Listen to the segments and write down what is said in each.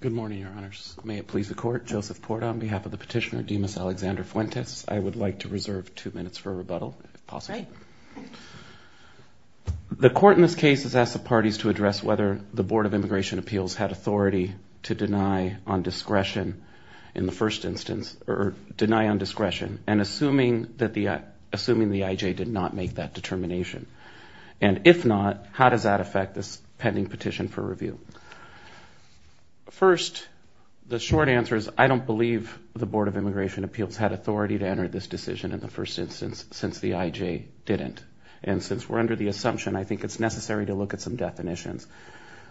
Good morning, Your Honors. May it please the Court, Joseph Porta on behalf of the petitioner Dimas Alexander Fuentes. I would like to reserve two minutes for a rebuttal, if possible. The Court in this case has asked the parties to address whether the Board of Immigration Appeals had authority to deny on discretion in the first instance, or deny on discretion, and assuming that the IJ did not make that determination. And if not, how does that affect this pending petition for review? First, the short answer is I don't believe the Board of Immigration Appeals had authority to enter this decision in the first instance, since the IJ didn't. And since we're under the assumption, I think it's necessary to look at some definitions.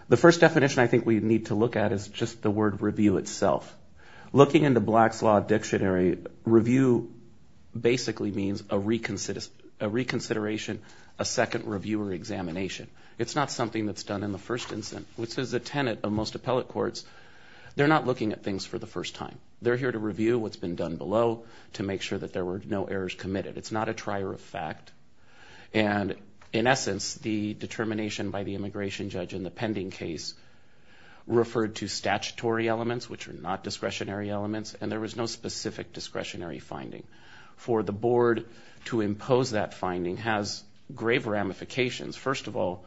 The first definition I think we need to look at is just the word review itself. Looking in the Black's Law Dictionary, review basically means a reconsideration, a second review or something that's done in the first instance, which is a tenet of most appellate courts. They're not looking at things for the first time. They're here to review what's been done below to make sure that there were no errors committed. It's not a trier of fact. And in essence, the determination by the immigration judge in the pending case referred to statutory elements, which are not discretionary elements, and there was no specific discretionary finding. For the board to impose that finding has grave ramifications. First of all,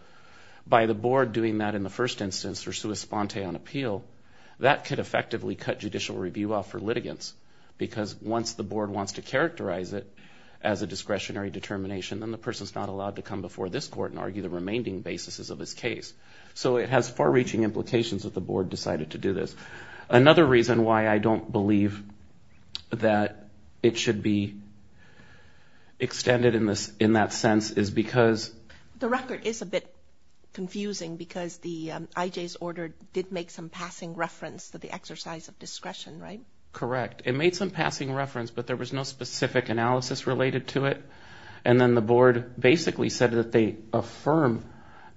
by the board doing that in the first instance for sua sponte on appeal, that could effectively cut judicial review off for litigants, because once the board wants to characterize it as a discretionary determination, then the person's not allowed to come before this court and argue the remaining basis of this case. So it has far-reaching implications that the board decided to do this. Another reason why I don't believe that it should be extended in that sense is because... The record is a bit confusing because the IJ's order did make some passing reference to the exercise of discretion, right? Correct. It made some passing reference, but there was no specific analysis related to it. And then the board basically said that they affirm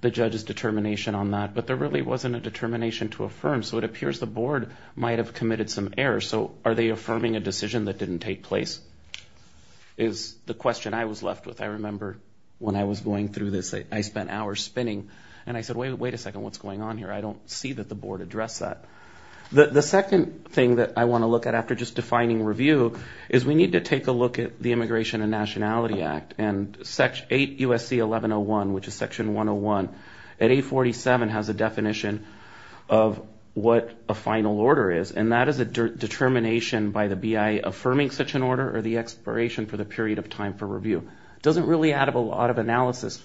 the judge's determination on that, but there really wasn't a determination to which the board might have committed some error. So are they affirming a decision that didn't take place is the question I was left with. I remember when I was going through this, I spent hours spinning, and I said, wait a second, what's going on here? I don't see that the board addressed that. The second thing that I want to look at after just defining review is we need to take a look at the Immigration and Nationality Act and 8 U.S.C. 1101, which is section 101, at 847 has a definition of what affirmative final order is, and that is a determination by the BIA affirming such an order or the expiration for the period of time for review. It doesn't really add up a lot of analysis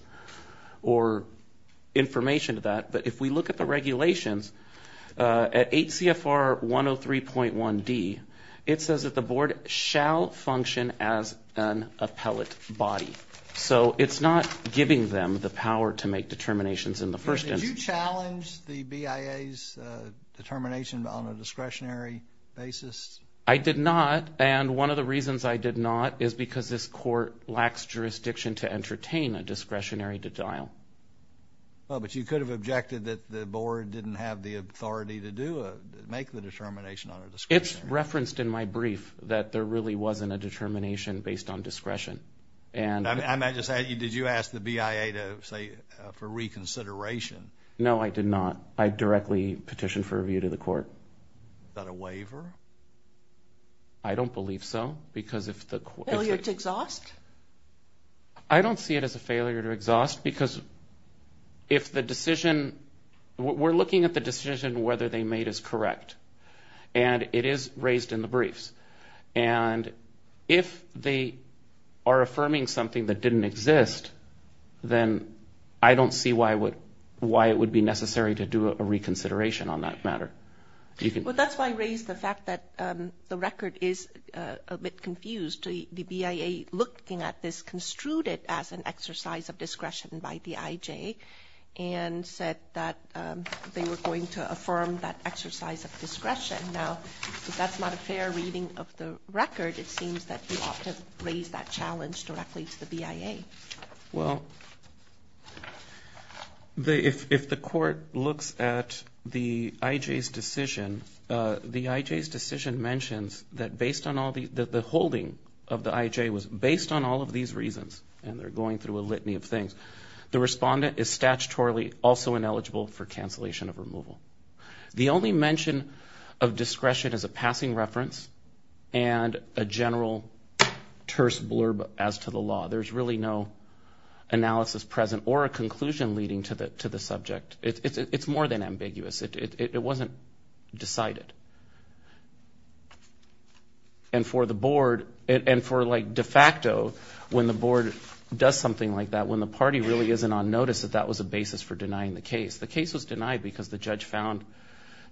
or information to that, but if we look at the regulations, at 8 CFR 103.1D, it says that the board shall function as an appellate body. So it's not giving them the power to make determinations in the first instance. Did you challenge the BIA's determination on a discretionary basis? I did not, and one of the reasons I did not is because this court lacks jurisdiction to entertain a discretionary denial. But you could have objected that the board didn't have the authority to make the determination on a discretionary basis. It's referenced in my brief that there really wasn't a determination based on discretion. Did you ask the BIA to say, for reconsideration? No, I did not. I directly petitioned for review to the court. Is that a waiver? I don't believe so, because if the... Failure to exhaust? I don't see it as a failure to exhaust, because if the decision, we're looking at the decision whether they made is correct, and it is raised in the briefs. And if they are affirming something that didn't exist, then I don't see why it would be necessary to do a reconsideration on that matter. Well, that's why I raised the fact that the record is a bit confused. The BIA, looking at this, construed it as an exercise of discretion by the IJ, and said that they were going to affirm that exercise of discretion. Now, if that's not a fair reading of the record, it seems that we ought to raise that challenge directly to the BIA. Well, if the court looks at the IJ's decision, the IJ's decision mentions that based on all the holding of the IJ was based on all of these reasons, and they're going through a litany of things, the respondent is statutorily also ineligible for cancellation of removal. The only mention of discretion is a passing reference and a general terse blurb as to the law. There's really no analysis present or a conclusion leading to the subject. It's more than ambiguous. It wasn't decided. And for the board, and for like de facto, when the board does something like that, when the party really isn't on notice, that that was a basis for denying the case. The case was denied because the judge found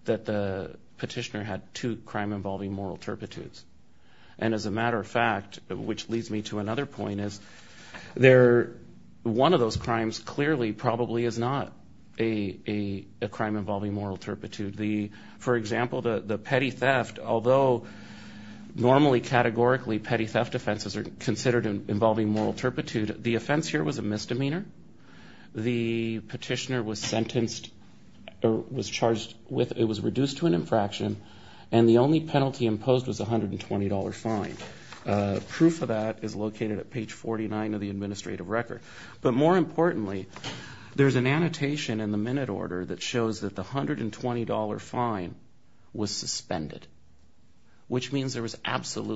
that the petitioner had two crime-involving moral turpitudes. And as a matter of fact, which leads me to another point, is one of those crimes clearly probably is not a crime-involving moral turpitude. For example, the petty theft, although normally categorically petty theft offenses are considered involving moral turpitude, the offense here was a misdemeanor. The petitioner was sentenced or was charged with, it was reduced to an infraction, and the only penalty imposed was a $120 fine. Proof of that is located at page 49 of the administrative record. But more importantly, there's an annotation in the minute order that shows that the $120 fine was suspended, which means there was an infraction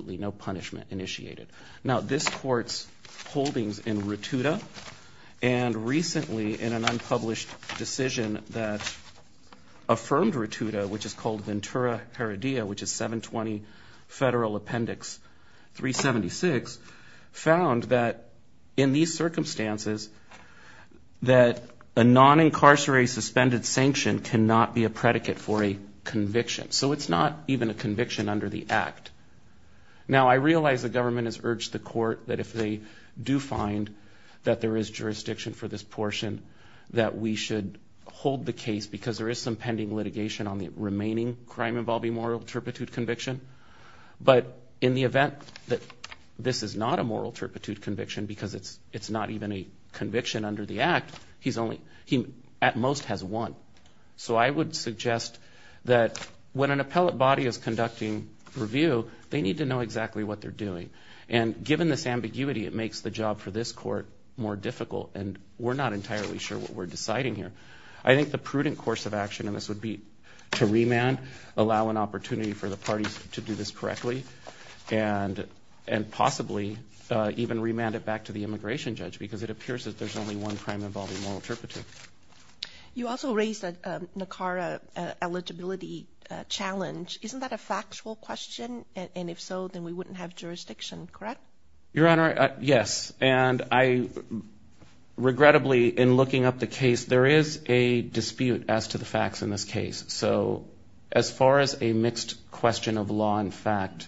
in Rotuda. And recently, in an unpublished decision that affirmed Rotuda, which is called Ventura Heredia, which is 720 Federal Appendix 376, found that in these circumstances that a non-incarcerated suspended sanction cannot be a predicate for a conviction. So it's not even a conviction under the act. Now, I realize the government has urged the that there is jurisdiction for this portion, that we should hold the case because there is some pending litigation on the remaining crime-involving moral turpitude conviction. But in the event that this is not a moral turpitude conviction because it's not even a conviction under the act, he at most has one. So I would suggest that when an appellate body is conducting review, they need to know exactly what they're doing. And given this is a case that's been brought to court more difficult, and we're not entirely sure what we're deciding here, I think the prudent course of action in this would be to remand, allow an opportunity for the parties to do this correctly, and possibly even remand it back to the immigration judge because it appears that there's only one crime-involving moral turpitude. You also raised the NACARA eligibility challenge. Isn't that a factual question? And if so, then we wouldn't have jurisdiction, correct? Your Honor, yes. And I, regrettably, in looking up the case, there is a dispute as to the facts in this case. So as far as a mixed question of law and fact,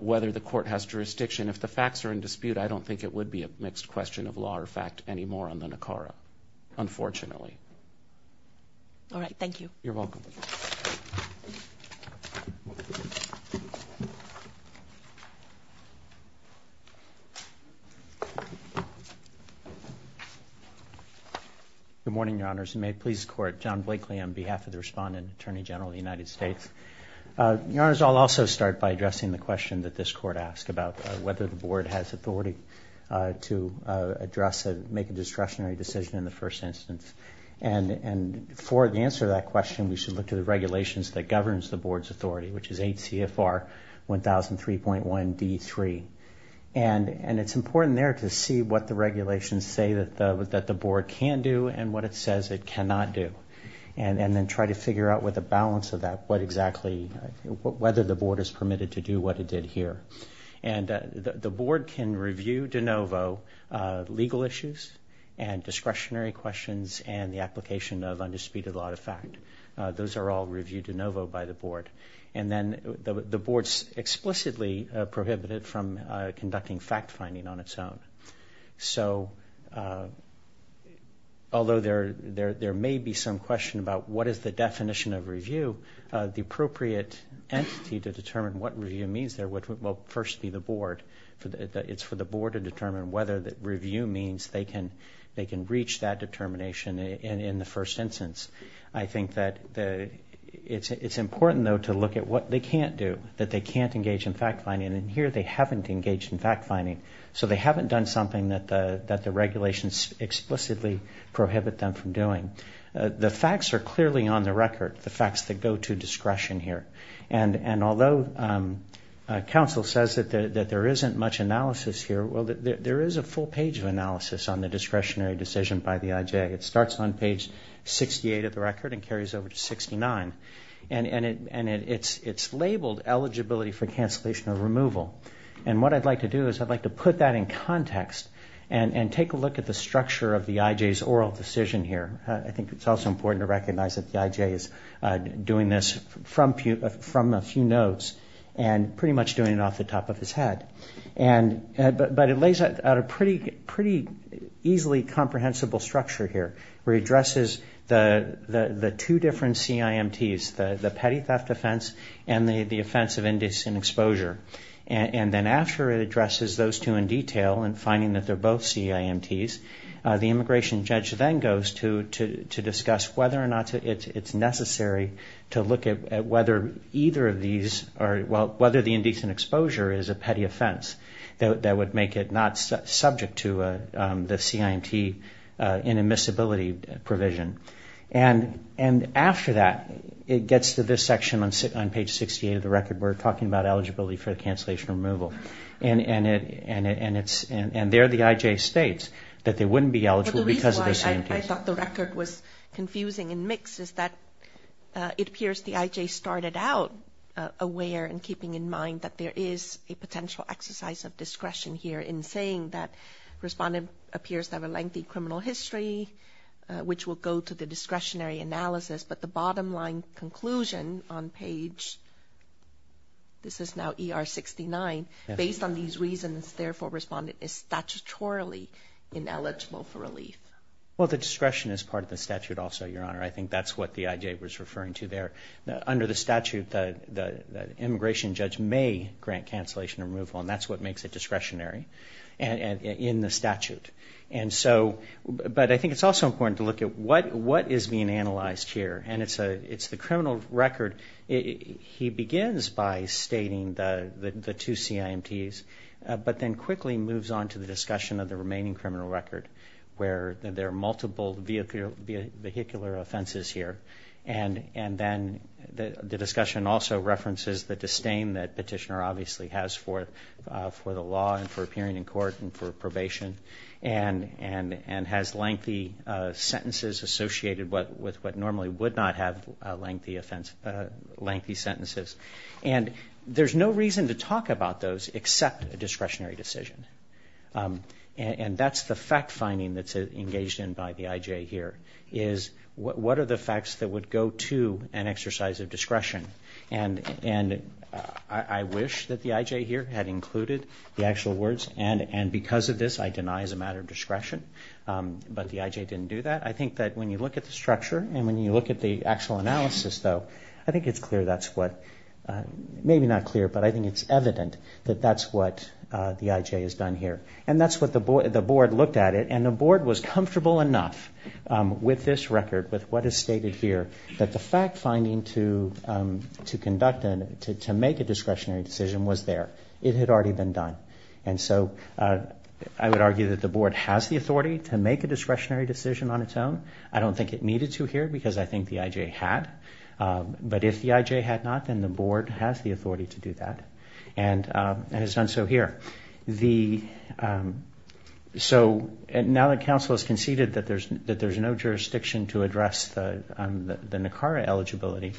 whether the court has jurisdiction, if the facts are in dispute, I don't think it would be a mixed question of law or fact anymore on the NACARA, unfortunately. All right. Thank you. You're welcome. Good morning, Your Honors. May it please the Court, John Blakely on behalf of the Respondent, Attorney General of the United States. Your Honors, I'll also start by addressing the question that this Court asked about whether the Board has authority to address, make a discretionary decision in the first instance. And for the answer to that question, we should look to the regulations that governs the Board's authority, which is ACFR 1003.1d3. And it's important there to see what the regulations say that the Board can do and what it says it cannot do. And then try to figure out, with a balance of that, what exactly, whether the Board is permitted to do what it did here. And the Board can review de novo legal issues and discretionary questions and the application of undisputed law to fact. Those are all reviewed de novo by the Board. And then the Board's explicitly prohibited from conducting fact-finding on its own. So, although there may be some question about what is the definition of review, the appropriate entity to determine what review means there will first be the Board. It's for the Board to determine whether review means they can reach that determination in the first instance. I think that it's important though to look at what they can't do, that they can't engage in fact-finding. And here they haven't engaged in fact-finding. So they haven't done something that the regulations explicitly prohibit them from doing. The facts are clearly on the record, the facts that go to discretion here. And although counsel says that there isn't much analysis here, well, there is a full page of analysis on the discretionary decision by the IJ. It starts on page 68 of the record and carries over to 69. And it's labeled eligibility for cancellation or removal. And what I'd like to do is I'd like to put that in context and take a look at the structure of the IJ's oral decision here. I think it's also important to recognize that the IJ is doing this from a few notes and pretty much doing it off the top of his head. But it lays out a pretty easily comprehensible structure here where it addresses the two different CIMTs, the petty theft offense and the offense of indecent exposure. And then after it addresses those two in detail and finding that they're both CIMTs, the immigration judge then goes to discuss whether or not it's necessary to look at whether either of these are, well, whether the indecent exposure is a petty offense that would make it not subject to the CIMT inadmissibility provision. And after that, it gets to this section on page 68 of the record where we're talking about eligibility for cancellation or removal. And there the IJ states that they wouldn't be eligible because of the CIMTs. But the reason why I thought the record was confusing and mixed is that it appears the IJ started out aware and keeping in mind that there is a potential exercise of discretion here in saying that respondent appears to have a lengthy criminal history, which will go to the discretionary analysis. But the bottom line conclusion on page, this is now PR 69. Based on these reasons, therefore, respondent is statutorily ineligible for relief. Well, the discretion is part of the statute also, Your Honor. I think that's what the IJ was referring to there. Under the statute, the immigration judge may grant cancellation or removal, and that's what makes it discretionary in the statute. And so, but I think it's also important to look at what is being analyzed here. And it's the criminal record. He begins by stating the two CIMTs, but then quickly moves on to the discussion of the remaining criminal record, where there are multiple vehicular offenses here. And then the discussion also references the disdain that petitioner obviously has for the law and for appearing in court and for probation, and has lengthy sentences associated with what normally would not have lengthy sentences. And there's no reason to talk about those except a discretionary decision. And that's the fact finding that's engaged in by the IJ here, is what are the facts that would go to an exercise of discretion? And I wish that the IJ here had included the actual words, and because of this, I deny as a matter of discretion. But the IJ didn't do that. I think that when you look at the structure and when you look at the actual analysis, though, I think it's clear that's what, maybe not clear, but I think it's evident that that's what the IJ has done here. And that's what the board looked at it, and the board was comfortable enough with this record, with what is stated here, that the fact finding to conduct and to make a discretionary decision was there. It had already been done. And so, I would argue that the board has the authority to make a discretionary decision on its own. I don't think it needed to here, because I think the IJ had. But if the IJ had not, then the board has the authority to do that, and has done so here. So, now that counsel has conceded that there's no jurisdiction to address the NACARA eligibility,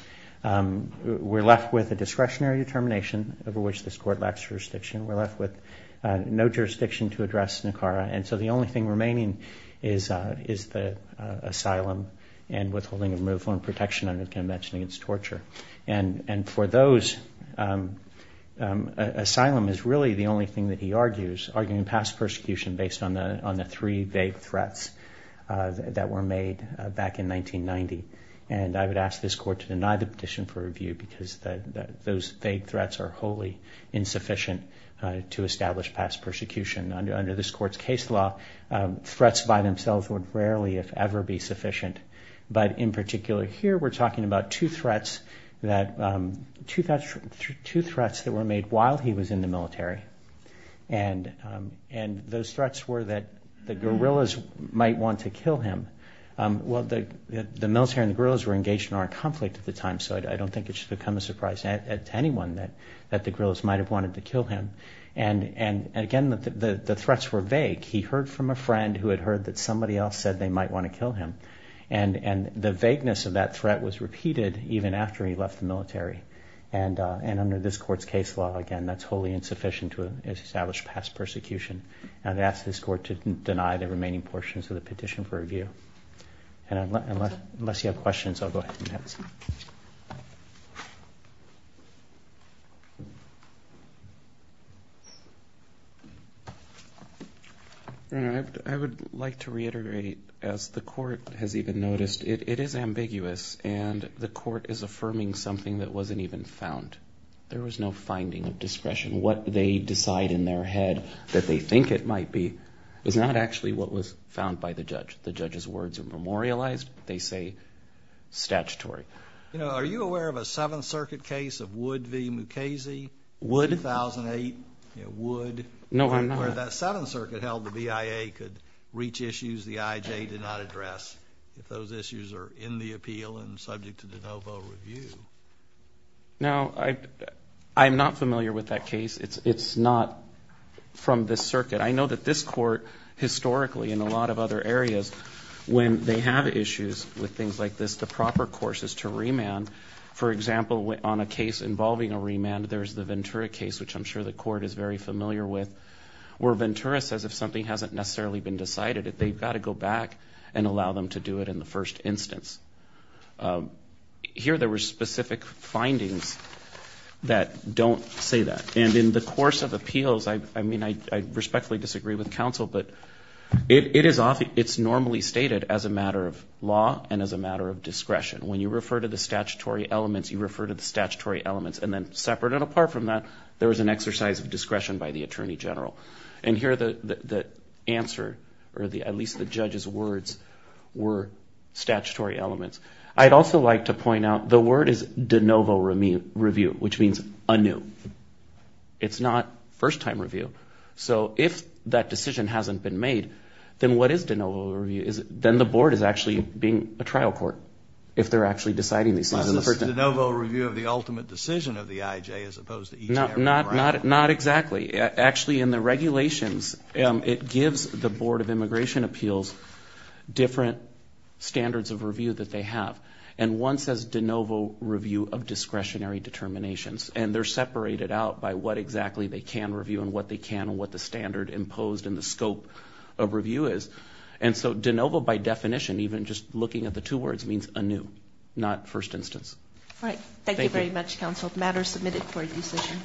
we're left with a discretionary determination over which this court lacks jurisdiction. We're left with no jurisdiction to address NACARA. And so, the only thing remaining is the asylum, and withholding of removal and protection under the Convention Against Torture. And for those, asylum is really the only thing that he argues, arguing past persecution based on the three vague threats that were made back in 1990. And I would ask this court to establish past persecution. Under this court's case law, threats by themselves would rarely, if ever, be sufficient. But in particular, here we're talking about two threats that were made while he was in the military. And those threats were that the guerrillas might want to kill him. Well, the military and the guerrillas were engaged in armed conflict at the time, so I don't think it should come as a surprise to anyone that the guerrillas might have wanted to kill him. And again, the threats were vague. He heard from a friend who had heard that somebody else said they might want to kill him. And the vagueness of that threat was repeated even after he left the military. And under this court's case law, again, that's wholly insufficient to establish past persecution. And I'd ask this court to deny the remaining portions of the petition for review. And unless you have questions, I'll go ahead and pass it. I would like to reiterate, as the court has even noticed, it is ambiguous. And the court is affirming something that wasn't even found. There was no finding of discretion. What they decide in their head that they think it might be is not actually what was found by the judge. The judge's words are memorialized. They say statutory. You know, are you aware of a Seventh Circuit case of Wood v. Mukasey? Wood? 2008. You know, Wood. No, I'm not. Where that Seventh Circuit held the BIA could reach issues the IJ did not address if those issues are in the appeal and subject to de novo review. No, I'm not familiar with that case. It's not from this circuit. I know that this court historically in a lot of other areas, when they have issues with things like this, the proper course is to remand. For example, on a case involving a remand, there's the Ventura case, which I'm sure the court is very familiar with, where Ventura says if something hasn't necessarily been decided, they've got to go back and allow them to do it in the first instance. Here there were specific findings that don't say that. And in the course of the counsel, but it's normally stated as a matter of law and as a matter of discretion. When you refer to the statutory elements, you refer to the statutory elements. And then separate and apart from that, there was an exercise of discretion by the attorney general. And here the answer, or at least the judge's words, were statutory elements. I'd also like to point out the word is de novo review, which means anew. It's not first time review. So if that decision hasn't been made, then what is de novo review? Then the board is actually being a trial court, if they're actually deciding these things in the first instance. Is this de novo review of the ultimate decision of the IJ as opposed to each and every round? Not exactly. Actually in the regulations, it gives the Board of Immigration Appeals different standards of review that they have. And one says de novo review of discretionary determinations. And they're separated out by what exactly they can review and what they can and what the standard imposed in the scope of review is. And so de novo by definition, even just looking at the two words, means anew, not first instance. All right. Thank you very much, counsel. Matter submitted for review session.